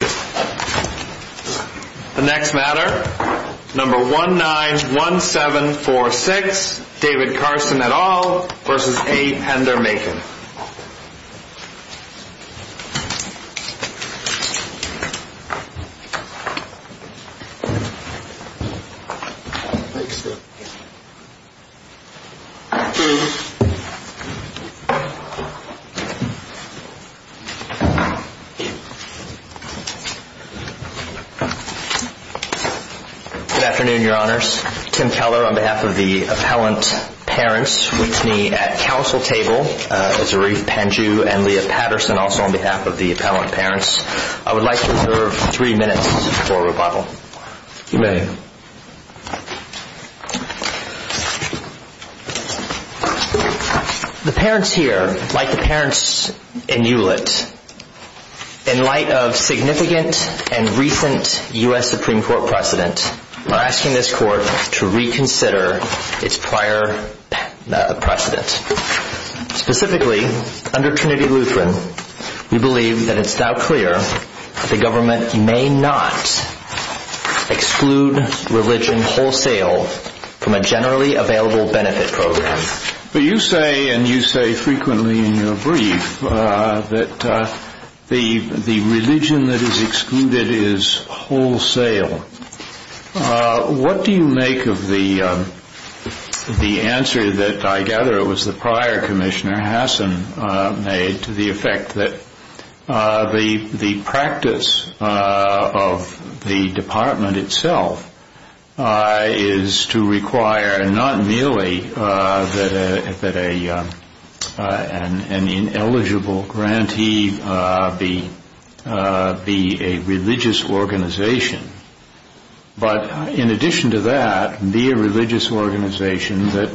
The next matter, number 191746, David Carson et al. v. A. Pender Makin Good afternoon, your honors. Tim Keller on behalf of the appellant parents meets me at council table. Zarif Pandju and Leah Patterson also on behalf of the appellant parents. I would like to reserve three minutes for rebuttal. You may. The parents here, like the parents in Hewlett, in light of significant and recent U.S. Supreme Court precedent, are asking this court to reconsider its prior precedent. Specifically, under Trinity Lutheran, we believe that it is now clear that the government may not exclude religion wholesale from a generally available benefit program. You say, and you say frequently in your brief, that the religion that is excluded is wholesale. What do you make of the answer that I gather it was the prior commissioner, Hassan, made to the effect that the practice of the department itself is to require not merely that an ineligible grantee be a religious organization, but in addition to that, be a religious organization that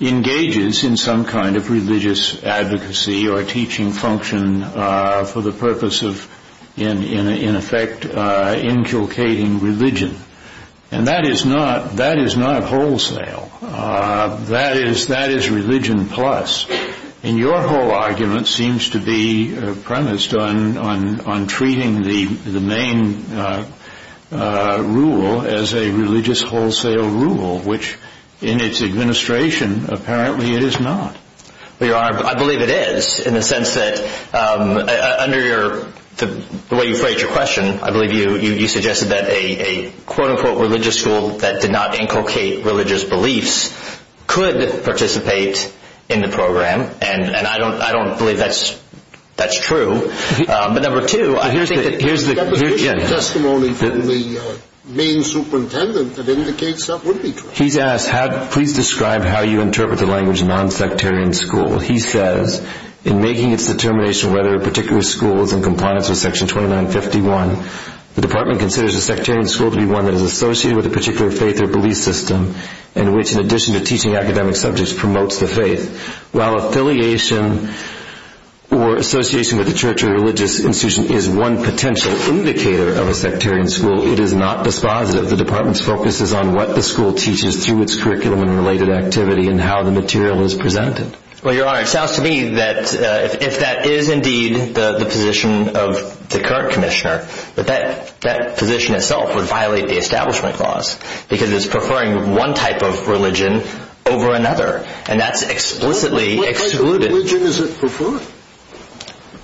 engages in some kind of religious advocacy or teaching function for the purpose of, in effect, inculcating religion. And that is not wholesale. That is religion plus. And your whole argument seems to be premised on treating the main rule as a religious wholesale rule, which in its administration, apparently it is not. I believe it is, in the sense that, under the way you phrased your question, I believe you suggested that a quote-unquote religious school that did not inculcate religious beliefs could participate in the program. And I don't believe that's true. But here's the testimony from the main superintendent that indicates that would be true. Please describe how you interpret the language non-sectarian school. He says, in making its determination whether a particular school is in compliance with section 2951, the department considers a sectarian school to be one that is associated with a particular faith or belief system in which, in addition to teaching academic subjects, promotes the faith, while affiliation or association with a church or religious institution is one potential indicator of a sectarian school. It is not dispositive. The department's focus is on what the school teaches through its curriculum and related activity and how the material is presented. Well, Your Honor, it sounds to me that if that is indeed the position of the current commissioner, that that position itself would violate the establishment clause, because it is preferring one type of religion over another. And that's explicitly excluded. Which religion is it preferring?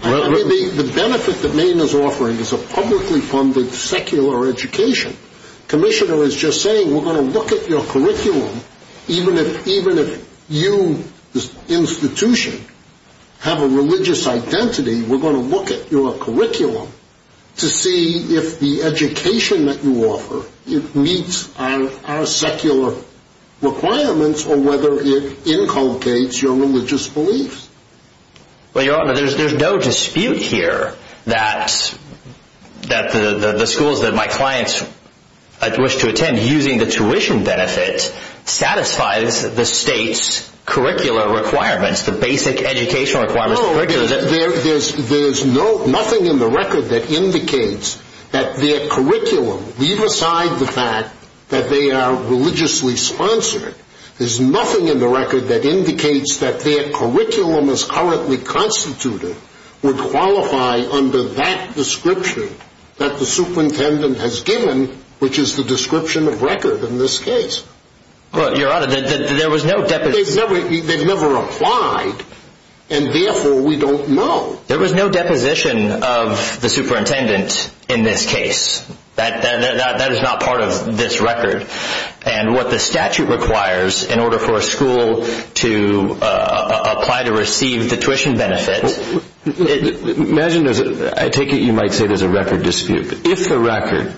The benefit that Maine is offering is a publicly funded secular education. The commissioner is just saying, we're going to look at your curriculum, even if you, the institution, have a religious identity, we're going to look at your curriculum to see if the education that you offer meets our secular requirements or whether it inculcates your religious beliefs. Well, Your Honor, there's no dispute here that the schools that my clients wish to attend, using the tuition benefit, satisfies the state's curricular requirements, the basic educational requirements. There's nothing in the record that indicates that their curriculum, leave aside the fact that they are religiously sponsored, there's nothing that indicates that their curriculum as currently constituted would qualify under that description that the superintendent has given, which is the description of record in this case. Well, Your Honor, there was no deposition. They've never applied, and therefore we don't know. There was no deposition of the superintendent in this case. That is not part of this record, and what the statute requires in order for a school to apply to receive the tuition benefit. Imagine, I take it you might say there's a record dispute. If the record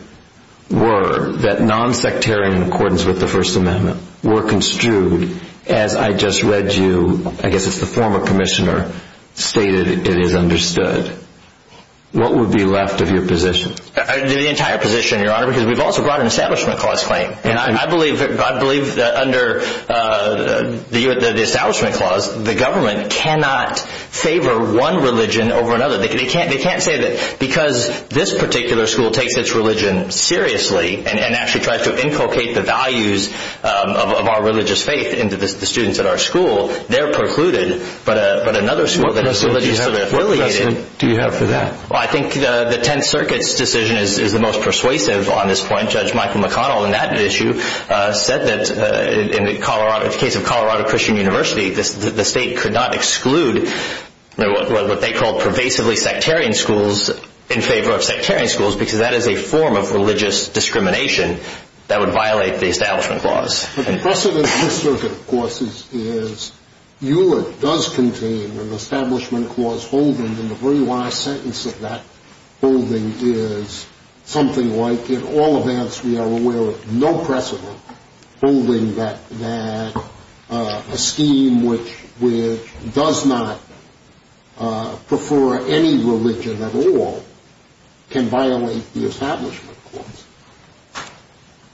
were that non-sectarian accordance with the First Amendment were construed as I just read you, I guess it's the former commissioner, stated it is understood, what would be left of your position? The entire position, Your Honor, because we've also brought an Establishment Clause claim, and I believe that under the Establishment Clause, the government cannot favor one religion over another. They can't say that because this particular school takes its religion seriously and actually tries to inculcate the values of our religious faith into the students at our school, they're precluded, but another school that is religiously affiliated What precedent do you have for that? I think the Tenth Circuit's decision is the most persuasive on this point. Judge Michael McConnell in that issue said that in the case of Colorado Christian University, the state could not exclude what they called pervasively sectarian schools in favor of sectarian schools because that is a form of religious discrimination that would violate the Establishment Clause. The precedent in this circuit, of course, is Hewlett does contain an Establishment Clause holding, and the very last sentence of that holding is something like, in all events, we are aware of no precedent holding that a scheme which does not prefer any religion at all can violate the Establishment Clause.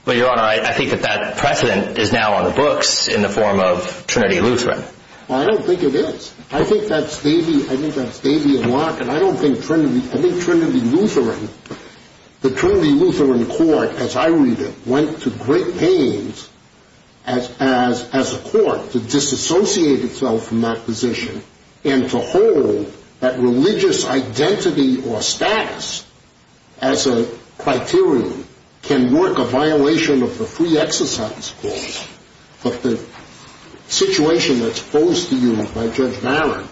But, Your Honor, I think that precedent is now on the books in the form of Trinity Lutheran. Well, I don't think it is. I think that's maybe a block, and I don't think Trinity Lutheran, the Trinity Lutheran Court, as I read it, went to great pains as a court to disassociate itself from that position and to hold that religious identity or status as a criterion can work a violation of the Free Exercise Clause, but the situation that's posed to you by Judge Barron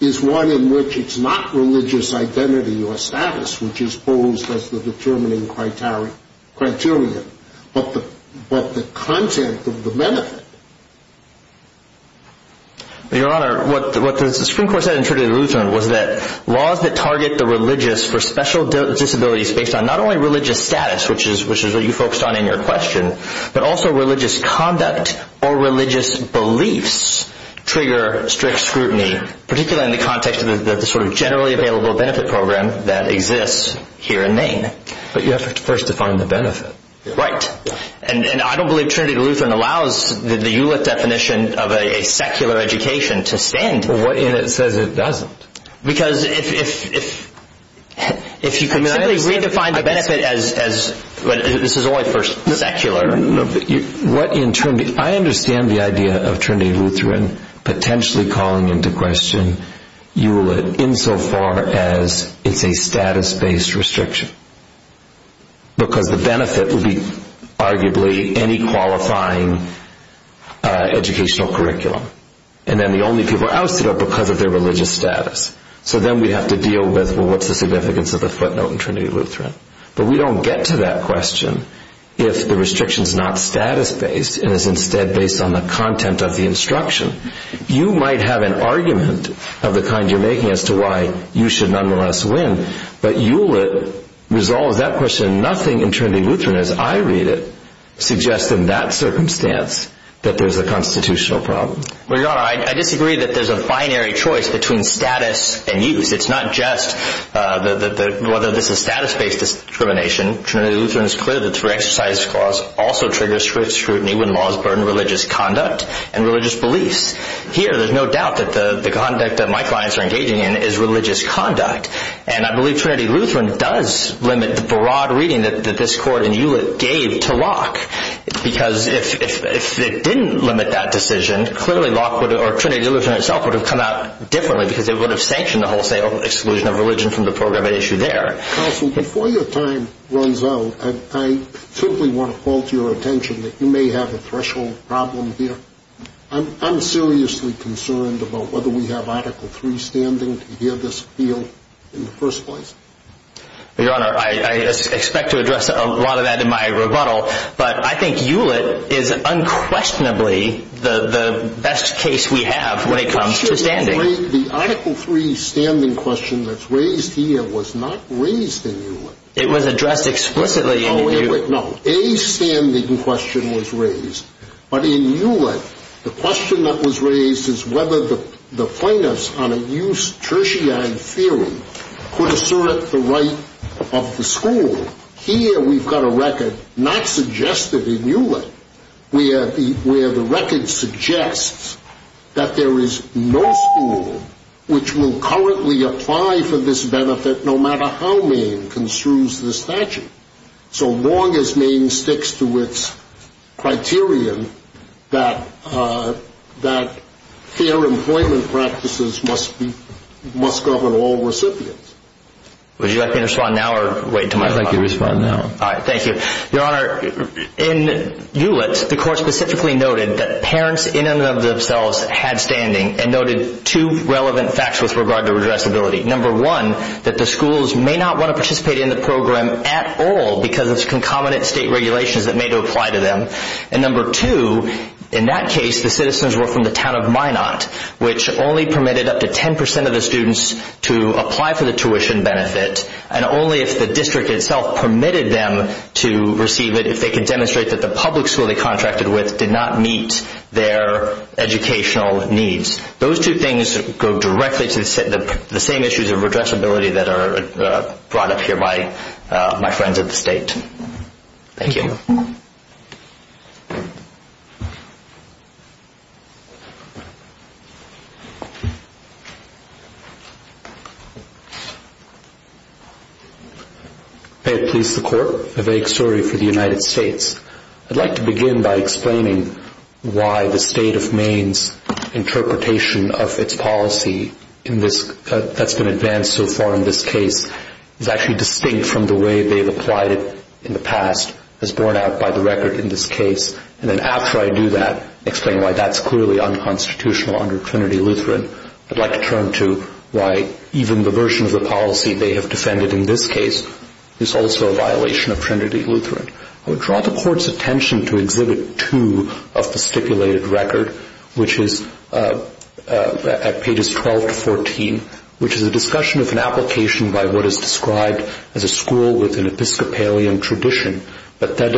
is one in which it's not religious identity or status which is posed as the determining criterion, but the content of the benefit. Your Honor, what the Supreme Court said in Trinity Lutheran was that laws that target the religious for special disabilities based on not only religious status, which is what you focused on in your question, but also religious conduct or religious beliefs trigger strict scrutiny, particularly in the context of the sort of generally available benefit program that exists here in Maine. But you have to first define the benefit. Right, and I don't believe Trinity Lutheran allows the ULIT definition of a secular education to stand. Well, what if it says it doesn't? Because if you can simply redefine the benefit as, this is only for secular. I understand the idea of Trinity Lutheran potentially calling into question ULIT insofar as it's a status-based restriction, because the benefit would be arguably any qualifying educational curriculum. And then the only people ousted are because of their religious status. So then we'd have to deal with, well, what's the significance of the footnote in Trinity Lutheran? But we don't get to that question if the restriction's not status-based and is instead based on the content of the instruction. You might have an argument of the kind you're making as to why you should nonetheless win, but ULIT resolves that question. And nothing in Trinity Lutheran, as I read it, suggests in that circumstance that there's a constitutional problem. Well, Your Honor, I disagree that there's a binary choice between status and use. It's not just whether this is status-based discrimination. Trinity Lutheran is clear that through exercise of cause also triggers scrutiny when laws burden religious conduct and religious beliefs. Here, there's no doubt that the conduct that my clients are engaging in is religious conduct. And I believe Trinity Lutheran does limit the broad reading that this Court and ULIT gave to Locke. Because if it didn't limit that decision, clearly Locke or Trinity Lutheran itself would have come out differently because it would have sanctioned the wholesale exclusion of religion from the program at issue there. Counsel, before your time runs out, I simply want to call to your attention that you may have a threshold problem here. I'm seriously concerned about whether we have Article III standing to hear this appeal in the first place. Your Honor, I expect to address a lot of that in my rebuttal, but I think ULIT is unquestionably the best case we have when it comes to standing. The Article III standing question that's raised here was not raised in ULIT. It was addressed explicitly in ULIT. No, a standing question was raised. But in ULIT, the question that was raised is whether the plaintiffs on a use tertiary theory could assert the right of the school. Here, we've got a record not suggested in ULIT, where the record suggests that there is no school which will currently apply for this benefit no matter how Maine construes the statute. So long as Maine sticks to its criterion that fair employment practices must govern all recipients. Would you like me to respond now or wait until my time? I'd like you to respond now. All right, thank you. Your Honor, in ULIT, the Court specifically noted that parents in and of themselves had standing and noted two relevant facts with regard to redressability. Number one, that the schools may not want to participate in the program at all because of concomitant state regulations that may apply to them. And number two, in that case, the citizens were from the town of Minot, which only permitted up to 10% of the students to apply for the tuition benefit, and only if the district itself permitted them to receive it, if they could demonstrate that the public school they contracted with did not meet their educational needs. Those two things go directly to the same issues of redressability that are brought up here by my friends at the State. Thank you. Peter Police, the Court. A vague story for the United States. I'd like to begin by explaining why the State of Maine's interpretation of its policy that's been advanced so far in this case is actually distinct from the way they've applied it in the past, as borne out by the record in this case. And then after I do that, explain why that's clearly unconstitutional under Trinity Lutheran, I'd like to turn to why even the version of the policy they have defended in this case is also a violation of Trinity Lutheran. I would draw the Court's attention to Exhibit 2 of the stipulated record, which is at pages 12 to 14, which is a discussion of an application by what is described as a school with an Episcopalian tradition, but that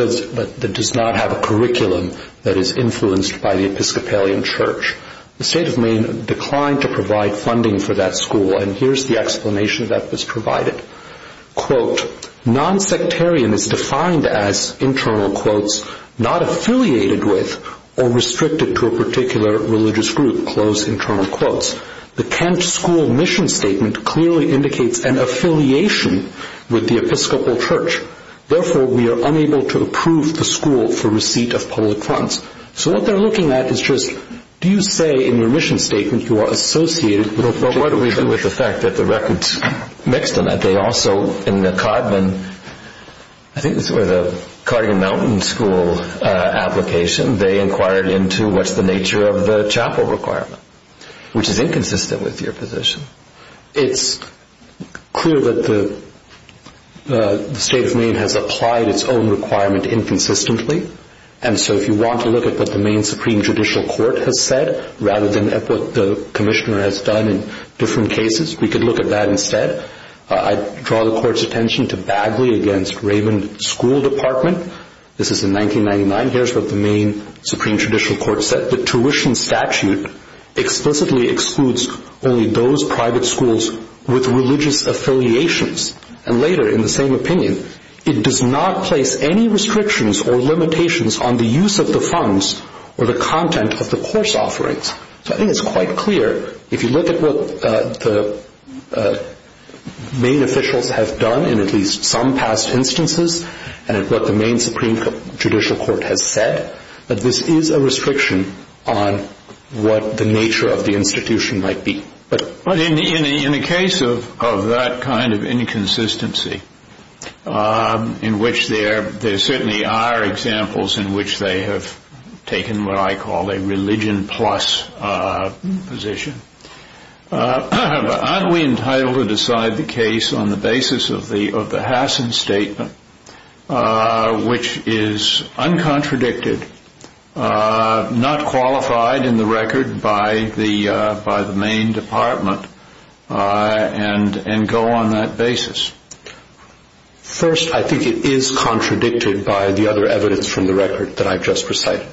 does not have a curriculum that is influenced by the Episcopalian church. The State of Maine declined to provide funding for that school, and here's the explanation that was provided. Quote, nonsectarian is defined as, internal quotes, not affiliated with or restricted to a particular religious group, close internal quotes. The Kent school mission statement clearly indicates an affiliation with the Episcopal church. Therefore, we are unable to approve the school for receipt of public funds. So what they're looking at is just, do you say in your mission statement you are associated with the church? But what do we do with the fact that the records mix them up? They also, in the Codman, I think this was the Codman Mountain School application, they inquired into what's the nature of the chapel requirement, which is inconsistent with your position. It's clear that the State of Maine has applied its own requirement inconsistently, and so if you want to look at what the Maine Supreme Judicial Court has said, rather than at what the commissioner has done in different cases, we could look at that instead. I draw the court's attention to Bagley against Raven School Department. This is in 1999. Here's what the Maine Supreme Judicial Court said. The tuition statute explicitly excludes only those private schools with religious affiliations. And later, in the same opinion, it does not place any restrictions or limitations on the use of the funds or the content of the course offerings. So I think it's quite clear, if you look at what the Maine officials have done in at least some past instances, and at what the Maine Supreme Judicial Court has said, that this is a restriction on what the nature of the institution might be. But in a case of that kind of inconsistency, in which there certainly are examples in which they have taken what I call a religion-plus position, aren't we entitled to decide the case on the basis of the Hassen Statement, which is uncontradicted, not qualified in the record by the Maine Department, and go on that basis? First, I think it is contradicted by the other evidence from the record that I've just recited.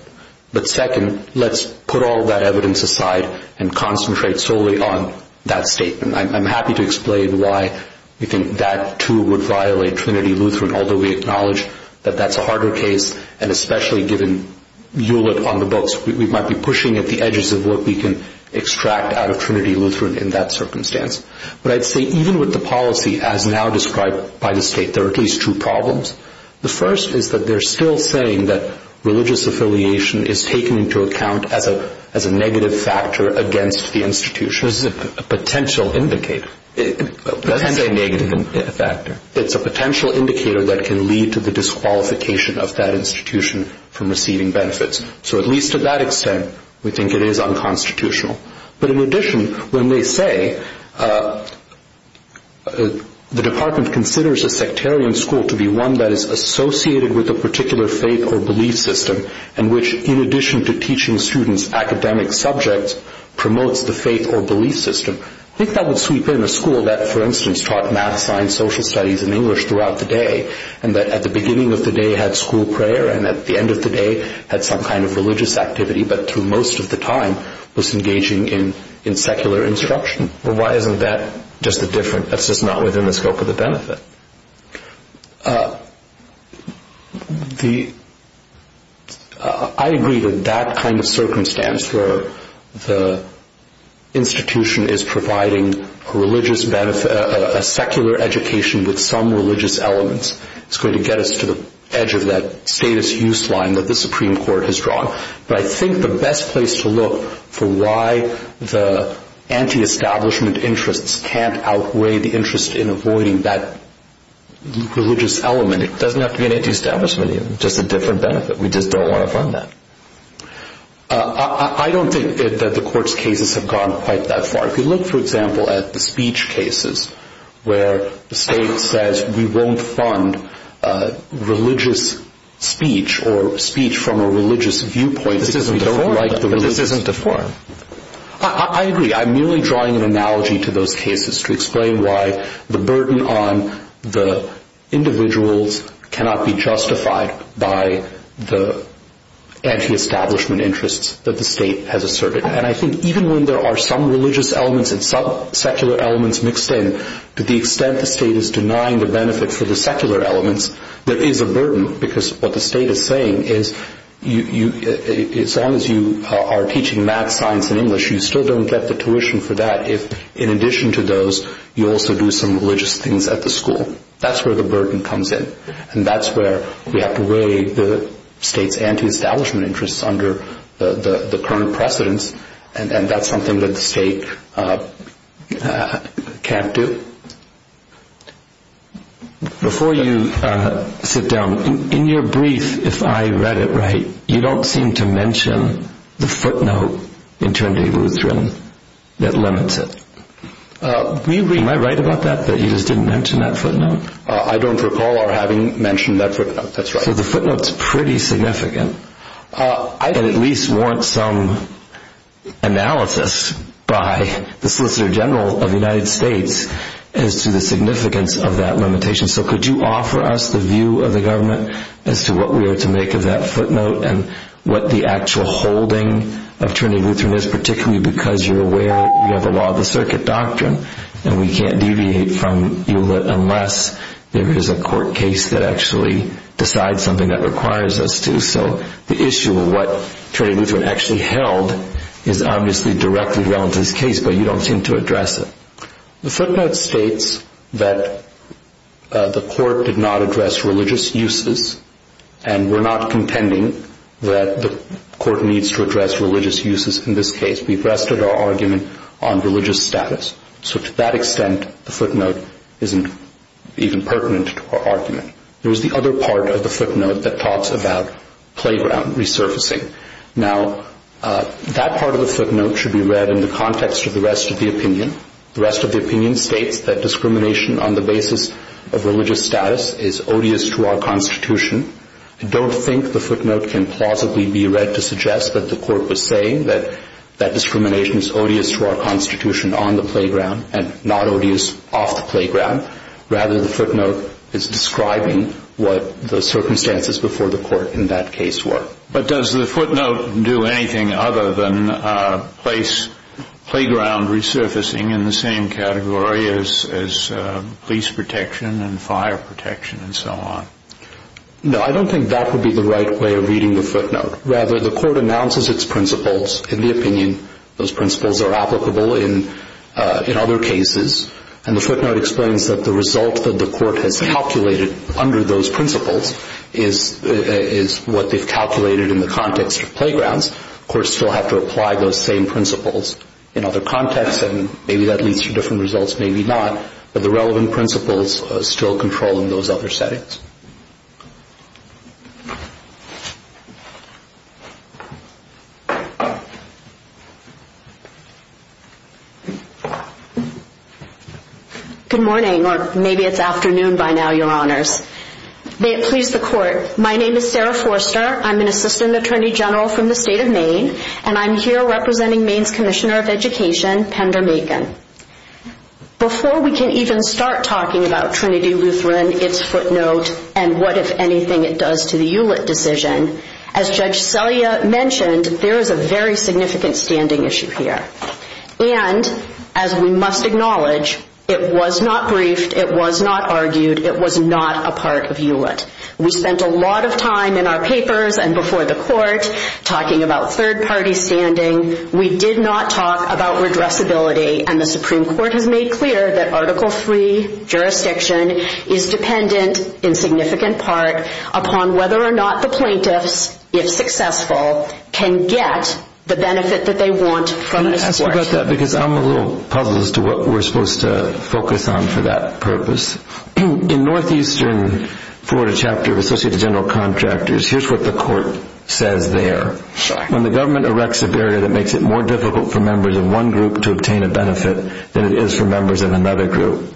But second, let's put all that evidence aside and concentrate solely on that statement. I'm happy to explain why we think that, too, would violate Trinity Lutheran, although we acknowledge that that's a harder case, and especially given Hewlett on the books, we might be pushing at the edges of what we can extract out of Trinity Lutheran in that circumstance. But I'd say even with the policy as now described by the state, there are at least two problems. The first is that they're still saying that religious affiliation is taken into account as a negative factor against the institution. It's a potential indicator. It doesn't say negative factor. It's a potential indicator that can lead to the disqualification of that institution from receiving benefits. So at least to that extent, we think it is unconstitutional. But in addition, when they say the department considers a sectarian school to be one that is associated with a particular faith or belief system, and which, in addition to teaching students academic subjects, promotes the faith or belief system, I think that would sweep in a school that, for instance, taught math, science, social studies, and English throughout the day, and that at the beginning of the day had school prayer, and at the end of the day was engaging in secular instruction. Why isn't that just the difference? That's just not within the scope of the benefit. I agree that that kind of circumstance where the institution is providing a secular education with some religious elements is going to get us to the edge of that status use line that the Supreme Court has drawn. But I think the best place to look for why the antiestablishment interests can't outweigh the interest in avoiding that religious element, it doesn't have to be an antiestablishment. It's just a different benefit. We just don't want to fund that. I don't think that the court's cases have gone quite that far. If you look, for example, at the speech cases where the state says we won't fund religious speech or speech from a religious viewpoint. This isn't a forum. I agree. I'm merely drawing an analogy to those cases to explain why the burden on the individuals cannot be justified by the antiestablishment interests that the state has asserted. And I think even when there are some religious elements and some secular elements mixed in, to the extent the state is denying the benefit for the secular elements, there is a burden. Because what the state is saying is as long as you are teaching math, science, and English, you still don't get the tuition for that if in addition to those you also do some religious things at the school. That's where the burden comes in. And that's where we have to weigh the state's antiestablishment interests under the current precedents, and that's something that the state can't do. Before you sit down, in your brief, if I read it right, you don't seem to mention the footnote in Trinity Lutheran that limits it. Do you agree? Am I right about that, that you just didn't mention that footnote? I don't recall our having mentioned that footnote. That's right. So the footnote's pretty significant. I at least want some analysis by the Solicitor General of the United States as to the significance of that limitation. So could you offer us the view of the government as to what we are to make of that footnote and what the actual holding of Trinity Lutheran is, particularly because you're aware of the law of the circuit doctrine, and we can't deviate from you unless there is a court case that actually decides something that requires us to. So the issue of what Trinity Lutheran actually held is obviously directly relevant to this case, but you don't seem to address it. The footnote states that the court did not address religious uses, and we're not contending that the court needs to address religious uses in this case. We've rested our argument on religious status. So to that extent, the footnote isn't even pertinent to our argument. There is the other part of the footnote that talks about playground resurfacing. Now, that part of the footnote should be read in the context of the rest of the opinion. The rest of the opinion states that discrimination on the basis of religious status is odious to our Constitution. I don't think the footnote can plausibly be read to suggest that the court was saying that that discrimination is odious to our Constitution on the playground and not odious off the playground. Rather, the footnote is describing what the circumstances before the court in that case were. But does the footnote do anything other than place playground resurfacing in the same category as police protection and fire protection and so on? No, I don't think that would be the right way of reading the footnote. Rather, the court announces its principles in the opinion. Those principles are applicable in other cases. And the footnote explains that the result that the court has calculated under those principles is what they've calculated in the context of playgrounds. Courts still have to apply those same principles in other contexts. And maybe that leads to different results, maybe not. But the relevant principles still control in those other settings. Good morning, or maybe it's afternoon by now, Your Honors. May it please the Court, my name is Sarah Forster. I'm an Assistant Attorney General from the State of Maine. And I'm here representing Maine's Commissioner of Education, Pender Makin. Before we can even start talking about Trinity Lutheran, its footnote, and what, if anything, it does to the ULIT decision, as Judge Selya mentioned, there is a very significant standing issue here. And, as we must acknowledge, it was not briefed, it was not argued, it was not a part of ULIT. We spent a lot of time in our papers and before the court talking about third-party standing. We did not talk about redressability. And the Supreme Court has made clear that article III jurisdiction is dependent, in significant part, upon whether or not the plaintiffs, if successful, can get the benefit that they want from this court. Can I ask you about that? Because I'm a little puzzled as to what we're supposed to focus on for that purpose. In Northeastern Florida Chapter of Associated General Contractors, here's what the court says there. When the government erects a barrier that makes it more difficult for members of one group to obtain a benefit than it is for members of another group,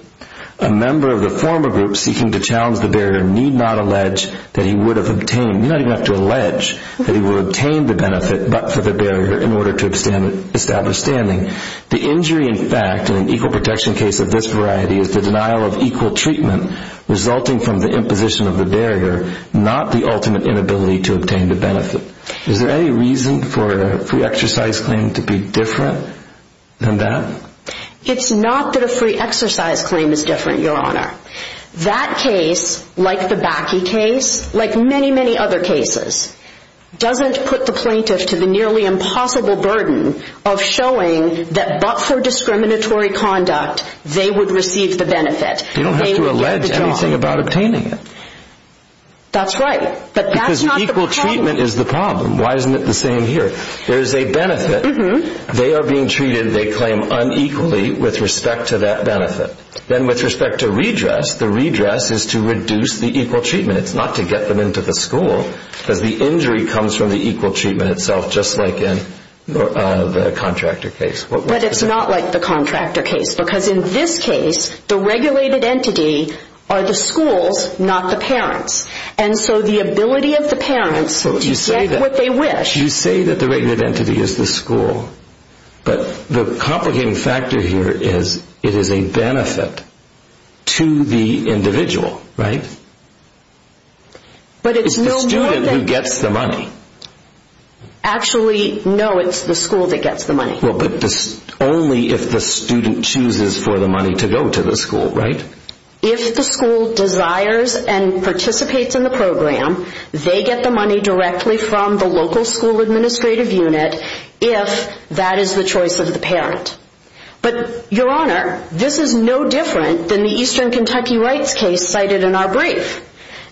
a member of the former group seeking to challenge the barrier need not allege that he would have obtained, you don't even have to allege, that he would have obtained the benefit but for the barrier in order to establish standing. The injury, in fact, in an equal protection case of this variety is the denial of equal treatment resulting from the imposition of the barrier, not the ultimate inability to obtain the benefit. Is there any reason for a free exercise claim to be different than that? It's not that a free exercise claim is different, Your Honor. That case, like the Bakke case, like many, many other cases, doesn't put the plaintiff to the nearly impossible burden of showing that but for discriminatory conduct, they would receive the benefit. They don't have to allege anything about obtaining it. That's right. But that's not the problem. Because equal treatment is the problem. Why isn't it the same here? There is a benefit. They are being treated, they claim, unequally with respect to that benefit. Then with respect to redress, the redress is to reduce the equal treatment. It's not to get them into the school because the injury comes from the equal treatment itself, just like in the contractor case. But it's not like the contractor case because in this case, the regulated entity are the schools, not the parents. And so the ability of the parents to get what they wish. You say that the regulated entity is the school, but the complicating factor here is it is a benefit to the individual, right? It's the student who gets the money. Actually, no, it's the school that gets the money. Well, but only if the student chooses for the money to go to the school, right? If the school desires and participates in the program, they get the money directly from the local school administrative unit, if that is the choice of the parent. But, Your Honor, this is no different than the Eastern Kentucky Rights case cited in our brief.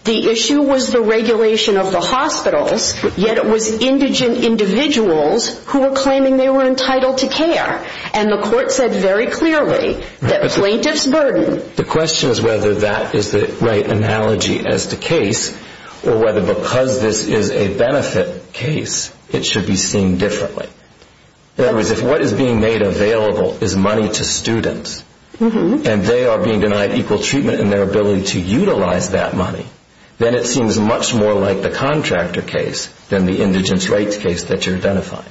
The issue was the regulation of the hospitals, yet it was indigent individuals who were claiming they were entitled to care. And the court said very clearly that plaintiff's burden The question is whether that is the right analogy as to case, or whether because this is a benefit case, it should be seen differently. In other words, if what is being made available is money to students, and they are being denied equal treatment in their ability to utilize that money, then it seems much more like the contractor case than the indigent rights case that you're identifying.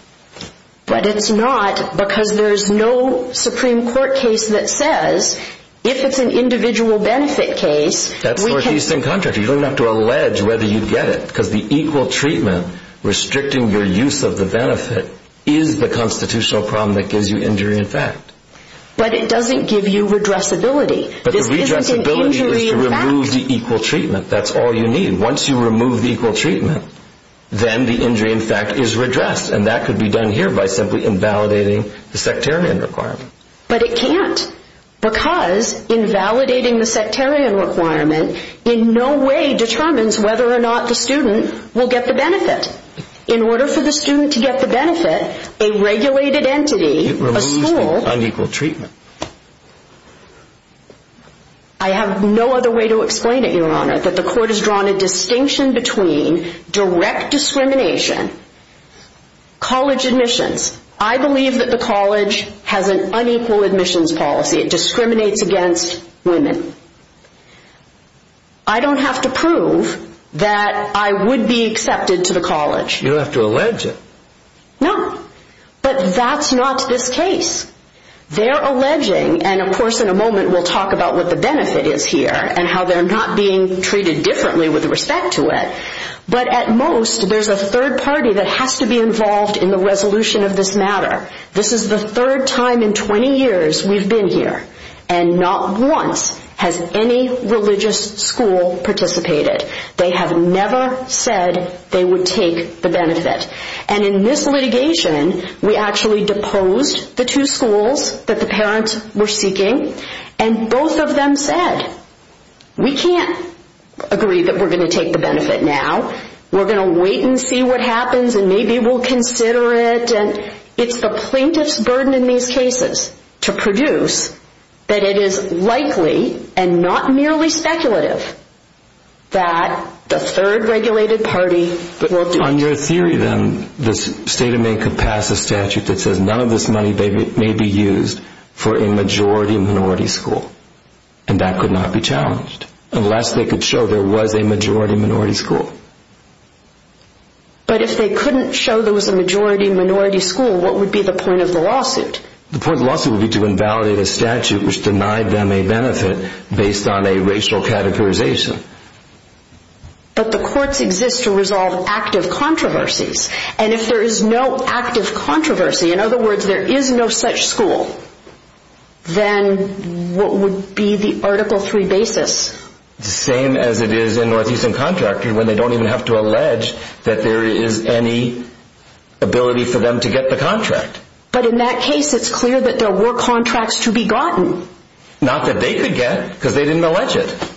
But it's not because there's no Supreme Court case that says if it's an individual benefit case, we can... That's for an Eastern contractor. You don't have to allege whether you get it. Because the equal treatment restricting your use of the benefit is the constitutional problem that gives you injury in fact. But it doesn't give you redressability. But the redressability is to remove the equal treatment. That's all you need. Once you remove the equal treatment, then the injury in fact is redressed. And that could be done here by simply invalidating the sectarian requirement. But it can't. Because invalidating the sectarian requirement in no way determines whether or not the student will get the benefit. In order for the student to get the benefit, a regulated entity, a school... It removes the unequal treatment. I have no other way to explain it, Your Honor, that the court has drawn a distinction between direct discrimination, college admissions. I believe that the college has an unequal admissions policy. It discriminates against women. I don't have to prove that I would be accepted to the college. You don't have to allege it. No. But that's not this case. They're alleging, and of course in a moment we'll talk about what the benefit is here, and how they're not being treated differently with respect to it. But at most, there's a third party that has to be involved in the resolution of this matter. This is the third time in 20 years we've been here. And not once has any religious school participated. They have never said they would take the benefit. And in this litigation, we actually deposed the two schools that the parents were seeking. And both of them said, we can't agree that we're going to take the benefit now. We're going to wait and see what happens, and maybe we'll consider it. It's the plaintiff's burden in these cases to produce that it is likely, and not merely speculative, that the third regulated party will do it. On your theory, then, the state of Maine could pass a statute that says that none of this money may be used for a majority-minority school. And that could not be challenged. Unless they could show there was a majority-minority school. But if they couldn't show there was a majority-minority school, what would be the point of the lawsuit? The point of the lawsuit would be to invalidate a statute which denied them a benefit based on a racial categorization. But the courts exist to resolve active controversies. And if there is no active controversy, in other words, there is no such school, then what would be the Article III basis? The same as it is in Northeastern Contractor, when they don't even have to allege that there is any ability for them to get the contract. But in that case, it's clear that there were contracts to be gotten. Not that they could get, because they didn't allege it.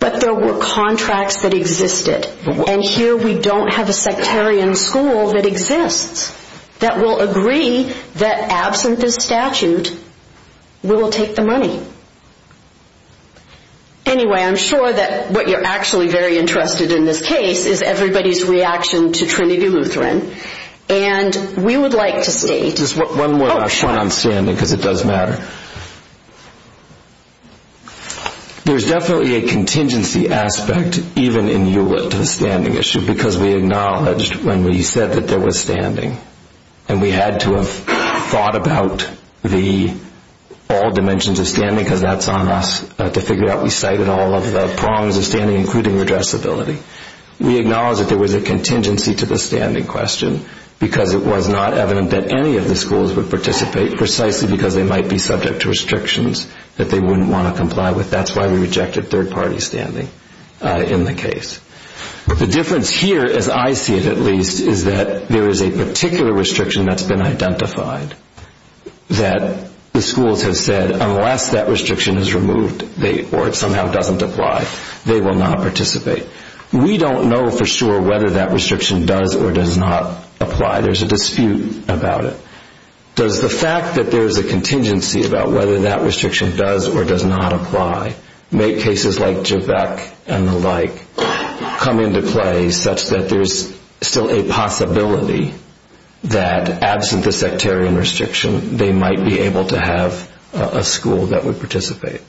But there were contracts that existed. And here we don't have a sectarian school that exists, that will agree that absent this statute, we will take the money. Anyway, I'm sure that what you're actually very interested in this case is everybody's reaction to Trinity Lutheran. And we would like to state... Just one more point on standing, because it does matter. There's definitely a contingency aspect, even in Hewlett, to the standing issue, because we acknowledged when we said that there was standing, and we had to have thought about all dimensions of standing, because that's on us to figure out. We cited all of the prongs of standing, including addressability. We acknowledged that there was a contingency to the standing question, because it was not evident that any of the schools would participate, precisely because they might be subject to restrictions that they wouldn't want to comply with. That's why we rejected third-party standing in the case. The difference here, as I see it at least, is that there is a particular restriction that's been identified, that the schools have said, unless that restriction is removed, or it somehow doesn't apply, they will not participate. We don't know for sure whether that restriction does or does not apply. There's a dispute about it. Does the fact that there's a contingency about whether that restriction does or does not apply make cases like JBEC and the like come into play, such that there's still a possibility that, absent the sectarian restriction, they might be able to have a school that would participate?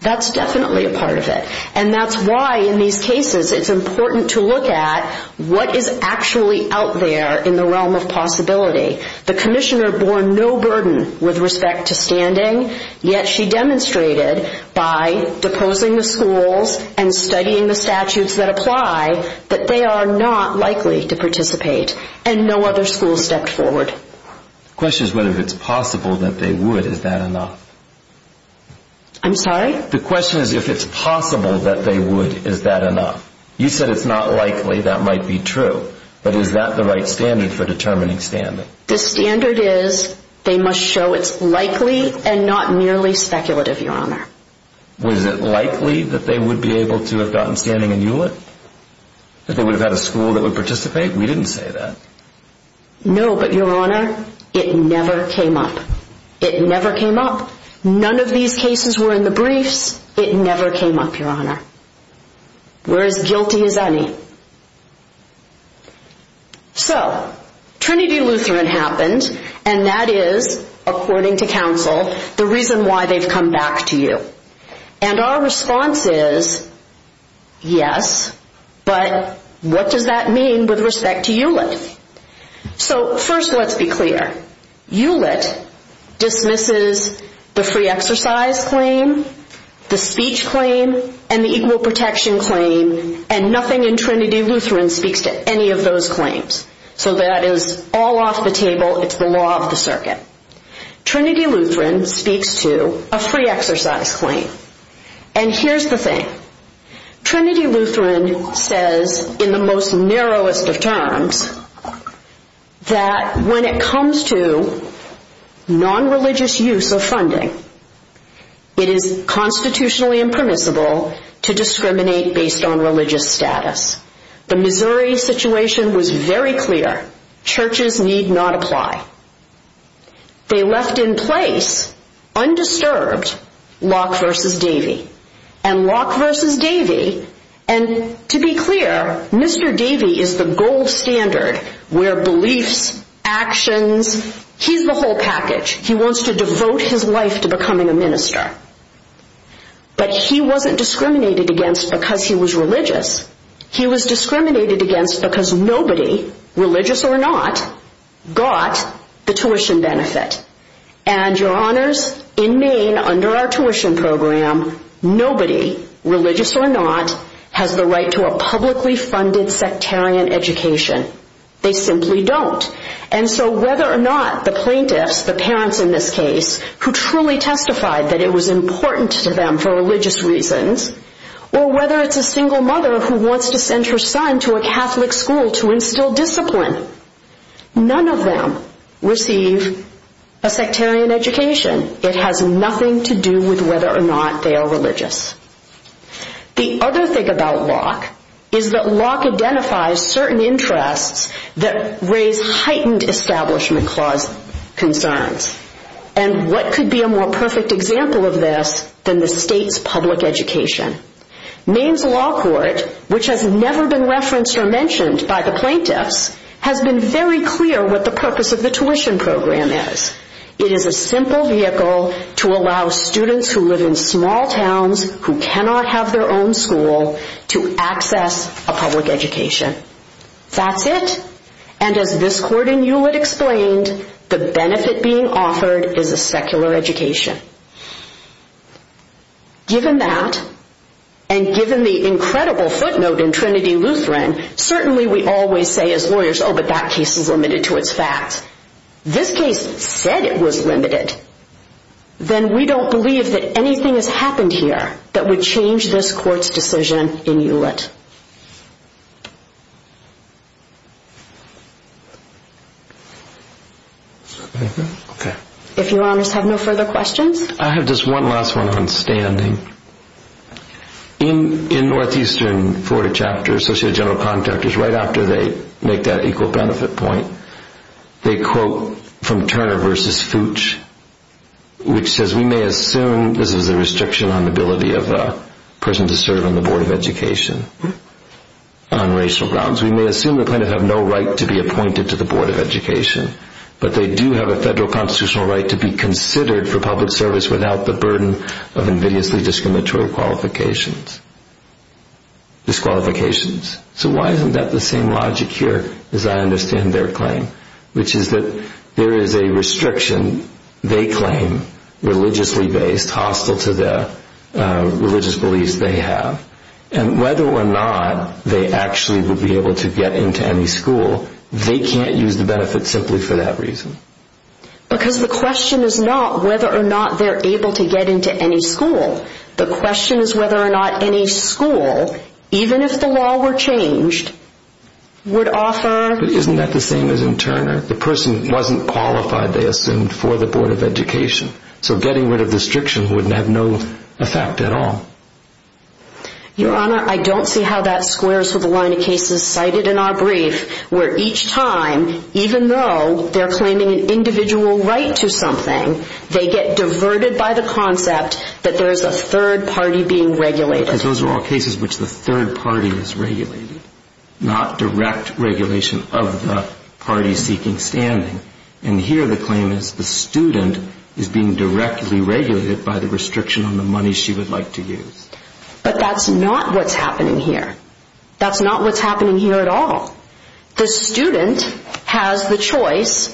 That's definitely a part of it. And that's why, in these cases, it's important to look at what is actually out there in the realm of possibility. The commissioner bore no burden with respect to standing, yet she demonstrated by deposing the schools and studying the statutes that apply that they are not likely to participate, and no other school stepped forward. The question is whether it's possible that they would. Is that enough? I'm sorry? The question is, if it's possible that they would, is that enough? You said it's not likely. That might be true. But is that the right standard for determining standing? The standard is they must show it's likely and not merely speculative, Your Honor. Was it likely that they would be able to have gotten standing in Hewlett? That they would have had a school that would participate? We didn't say that. No, but, Your Honor, it never came up. It never came up. None of these cases were in the briefs. It never came up, Your Honor. We're as guilty as any. So, Trinity Lutheran happened, and that is, according to counsel, the reason why they've come back to you. And our response is, yes, but what does that mean with respect to Hewlett? So, first, let's be clear. Hewlett dismisses the free exercise claim, the speech claim, and the equal protection claim, and nothing in Trinity Lutheran speaks to any of those claims. So that is all off the table. It's the law of the circuit. Trinity Lutheran speaks to a free exercise claim. And here's the thing. Trinity Lutheran says, in the most narrowest of terms, that when it comes to nonreligious use of funding, it is constitutionally impermissible to discriminate based on religious status. The Missouri situation was very clear. Churches need not apply. They left in place, undisturbed, Locke versus Davey. And Locke versus Davey, and to be clear, Mr. Davey is the gold standard where beliefs, actions, he's the whole package. He wants to devote his life to becoming a minister. But he wasn't discriminated against because he was religious. He was discriminated against because nobody, religious or not, got the tuition benefit. And your honors, in Maine, under our tuition program, nobody, religious or not, has the right to a publicly funded sectarian education. They simply don't. And so whether or not the plaintiffs, the parents in this case, who truly testified that it was important to them for religious reasons, or whether it's a single mother who wants to send her son to a Catholic school to instill discipline, none of them receive a sectarian education. It has nothing to do with whether or not they are religious. The other thing about Locke is that Locke identifies certain interests that raise heightened Establishment Clause concerns. And what could be a more perfect example of this than the state's public education? Maine's law court, which has never been referenced or mentioned by the plaintiffs, has been very clear what the purpose of the tuition program is. It is a simple vehicle to allow students who live in small towns who cannot have their own school to access a public education. That's it. And as this court in Hewlett explained, the benefit being offered is a secular education. Given that, and given the incredible footnote in Trinity Lutheran, certainly we always say as lawyers, oh, but that case is limited to its facts. This case said it was limited. Then we don't believe that anything has happened here If your honors have no further questions. I have just one last one on standing. In Northeastern Florida chapters, Associated General Contractors, right after they make that equal benefit point, they quote from Turner v. Fooch, which says, we may assume this is a restriction on the ability of a person to serve on the Board of Education. On racial grounds. We may assume the plaintiffs have no right to be appointed to the Board of Education. But they do have a federal constitutional right to be considered for public service without the burden of invidiously discriminatory qualifications. Disqualifications. So why isn't that the same logic here as I understand their claim? Which is that there is a restriction, they claim, religiously based, hostile to the religious beliefs they have. And whether or not they actually would be able to get into any school, they can't use the benefit simply for that reason. Because the question is not whether or not they're able to get into any school. The question is whether or not any school, even if the law were changed, would offer... But isn't that the same as in Turner? The person wasn't qualified, they assumed, for the Board of Education. So getting rid of the restriction would have no effect at all. Your Honor, I don't see how that squares with the line of cases cited in our brief where each time, even though they're claiming an individual right to something, they get diverted by the concept that there is a third party being regulated. Because those are all cases in which the third party is regulated. Not direct regulation of the party seeking standing. And here the claim is the student is being directly regulated by the restriction on the money she would like to use. But that's not what's happening here. That's not what's happening here at all. The student has the choice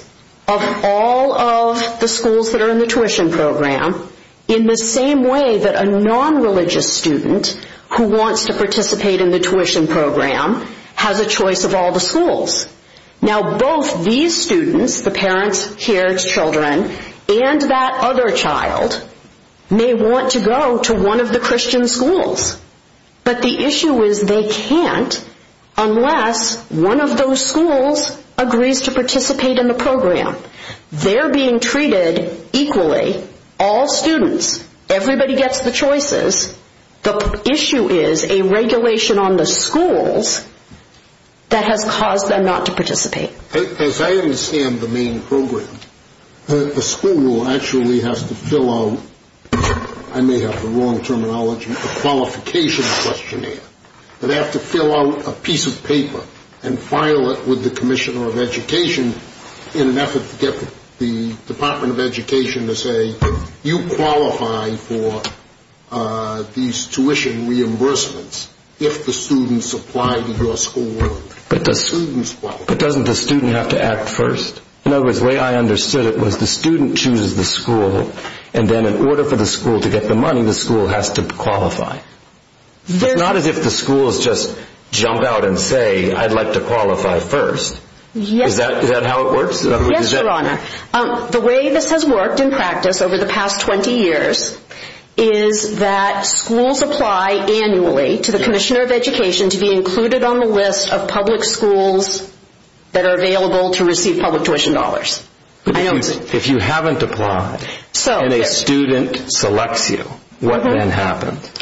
of all of the schools that are in the tuition program in the same way that a non-religious student who wants to participate in the tuition program has a choice of all the schools. Now both these students, the parents here, children, and that other child may want to go to one of the Christian schools. But the issue is they can't unless one of those schools agrees to participate in the program. They're being treated equally, all students. Everybody gets the choices. The issue is a regulation on the schools that has caused them not to participate. As I understand the main program, the school actually has to fill out, I may have the wrong terminology, a qualification questionnaire. They have to fill out a piece of paper and file it with the commissioner of education in an effort to get the Department of Education to say, you qualify for these tuition reimbursements if the students apply to your school. But doesn't the student have to act first? In other words, the way I understood it was the student chooses the school, and then in order for the school to get the money, the school has to qualify. Not as if the schools just jump out and say, I'd like to qualify first. Is that how it works? Yes, Your Honor. The way this has worked in practice over the past 20 years is that schools apply annually to the commissioner of education to be included on the list of public schools that are available to receive public tuition dollars. If you haven't applied and a student selects you, what then happens?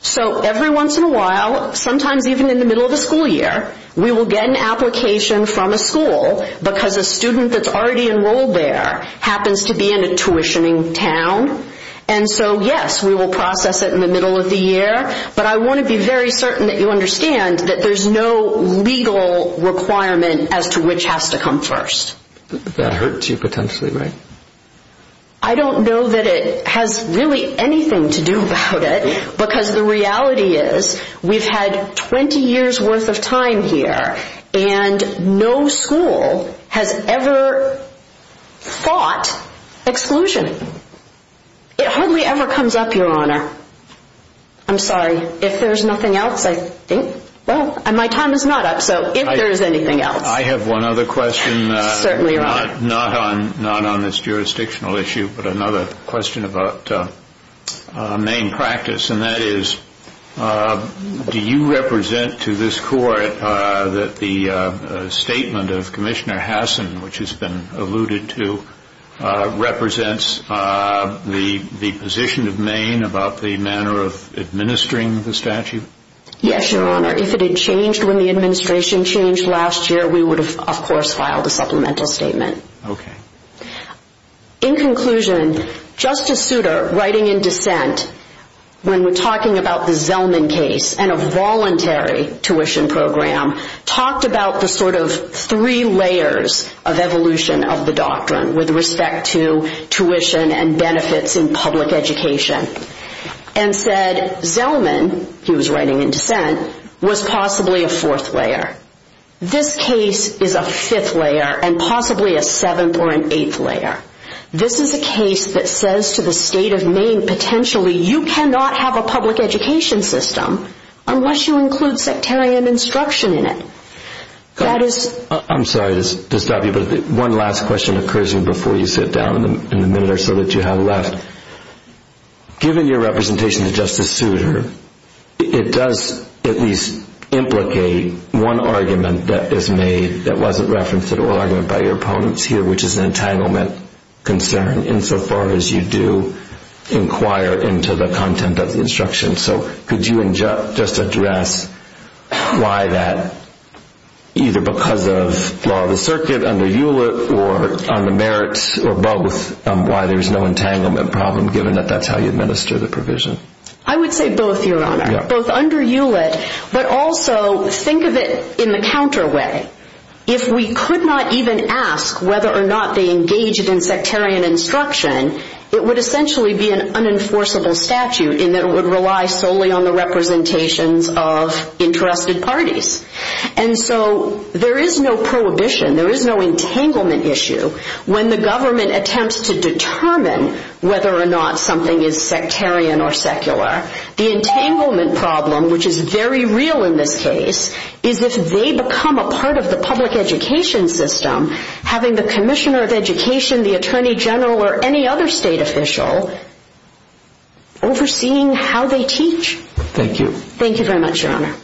So every once in a while, sometimes even in the middle of the school year, we will get an application from a school because a student that's already enrolled there happens to be in a tuitioning town. And so, yes, we will process it in the middle of the year. But I want to be very certain that you understand that there's no legal requirement as to which has to come first. That hurts you potentially, right? I don't know that it has really anything to do about it, because the reality is we've had 20 years' worth of time here and no school has ever fought exclusion. It hardly ever comes up, Your Honor. I'm sorry. If there's nothing else, I think. Well, my time is not up, so if there's anything else. I have one other question. Certainly, Your Honor. Not on this jurisdictional issue, but another question about main practice. And that is, do you represent to this court that the statement of Commissioner Hassan, which has been alluded to, represents the position of Maine about the manner of administering the statute? Yes, Your Honor. If it had changed when the administration changed last year, we would have, of course, filed a supplemental statement. Okay. In conclusion, Justice Souter, writing in dissent, when we're talking about the Zellman case and a voluntary tuition program, talked about the sort of three layers of evolution of the doctrine with respect to tuition and benefits in public education and said Zellman, he was writing in dissent, was possibly a fourth layer. This case is a fifth layer and possibly a seventh or an eighth layer. This is a case that says to the state of Maine, potentially, you cannot have a public education system unless you include sectarian instruction in it. I'm sorry to stop you, but one last question occurs to me before you sit down in the minute or so that you have left. Given your representation to Justice Souter, it does at least implicate one argument that is made that wasn't referenced at all by your opponents here, which is an entanglement concern insofar as you do inquire into the content of the instruction. So could you just address why that, either because of law of the circuit under Hewlett or on the merits or both, why there's no entanglement problem given that that's how you administer the provision? I would say both, Your Honor, both under Hewlett, but also think of it in the counter way. If we could not even ask whether or not they engaged in sectarian instruction, it would essentially be an unenforceable statute in that it would rely solely on the representations of entrusted parties. And so there is no prohibition, there is no entanglement issue when the government attempts to determine whether or not something is sectarian or secular. The entanglement problem, which is very real in this case, is if they become a part of the public education system, having the Commissioner of Education, the Attorney General, or any other state official overseeing how they teach. Thank you. Thank you very much, Your Honor.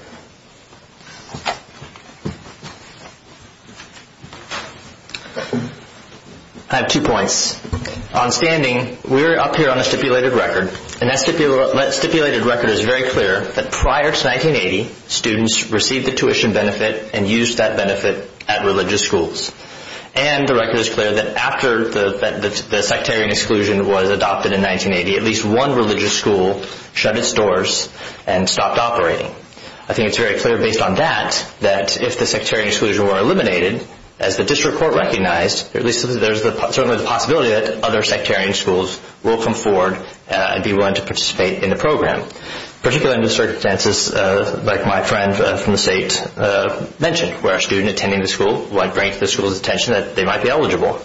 I have two points. On standing, we're up here on a stipulated record, and that stipulated record is very clear that prior to 1980, students received the tuition benefit and used that benefit at religious schools. And the record is clear that after the sectarian exclusion was adopted in 1980, at least one religious school shut its doors and stopped operating. I think it's very clear based on that that if the sectarian exclusion were eliminated, as the district court recognized, there's certainly the possibility that other sectarian schools will come forward and be willing to participate in the program, particularly under the circumstances like my friend from the state mentioned, where a student attending the school might bring to the school's attention that they might be eligible.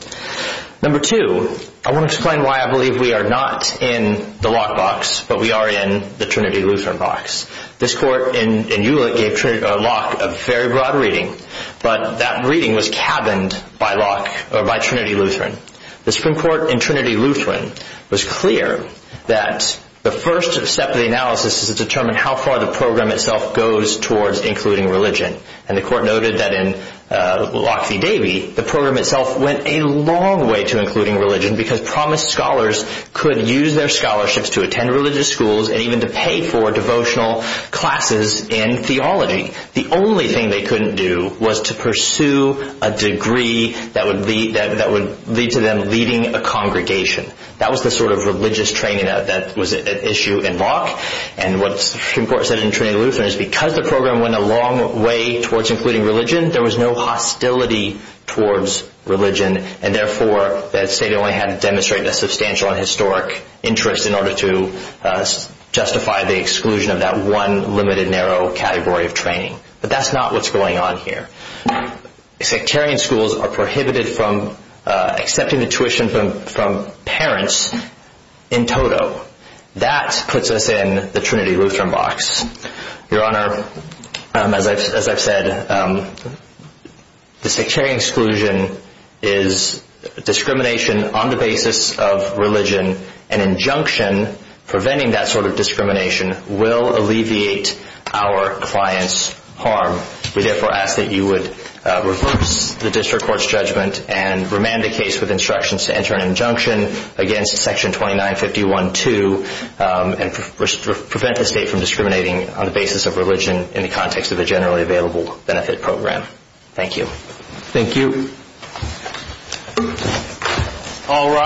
Number two, I want to explain why I believe we are not in the lockbox, but we are in the Trinity Luther box. This court in Hewlett gave Trinity Law a very broad reading, but that reading was cabined by Trinity Lutheran. The Supreme Court in Trinity Lutheran was clear that the first step of the analysis is to determine how far the program itself goes towards including religion. And the court noted that in Lockheed Davy, the program itself went a long way to including religion because promised scholars could use their scholarships to attend religious schools and even to pay for devotional classes in theology. The only thing they couldn't do was to pursue a degree that would lead to them leading a congregation. That was the sort of religious training that was at issue in Locke. And what the Supreme Court said in Trinity Lutheran is because the program went a long way towards including religion, there was no hostility towards religion, and therefore the state only had to demonstrate a substantial and historic interest in order to justify the exclusion of that one limited narrow category of training. But that's not what's going on here. Sectarian schools are prohibited from accepting the tuition from parents in total. That puts us in the Trinity Lutheran box. Your Honor, as I've said, an injunction preventing that sort of discrimination will alleviate our client's harm. We therefore ask that you would reverse the district court's judgment and remand the case with instructions to enter an injunction against Section 2951-2 and prevent the state from discriminating on the basis of religion in the context of a generally available benefit program. Thank you. Thank you.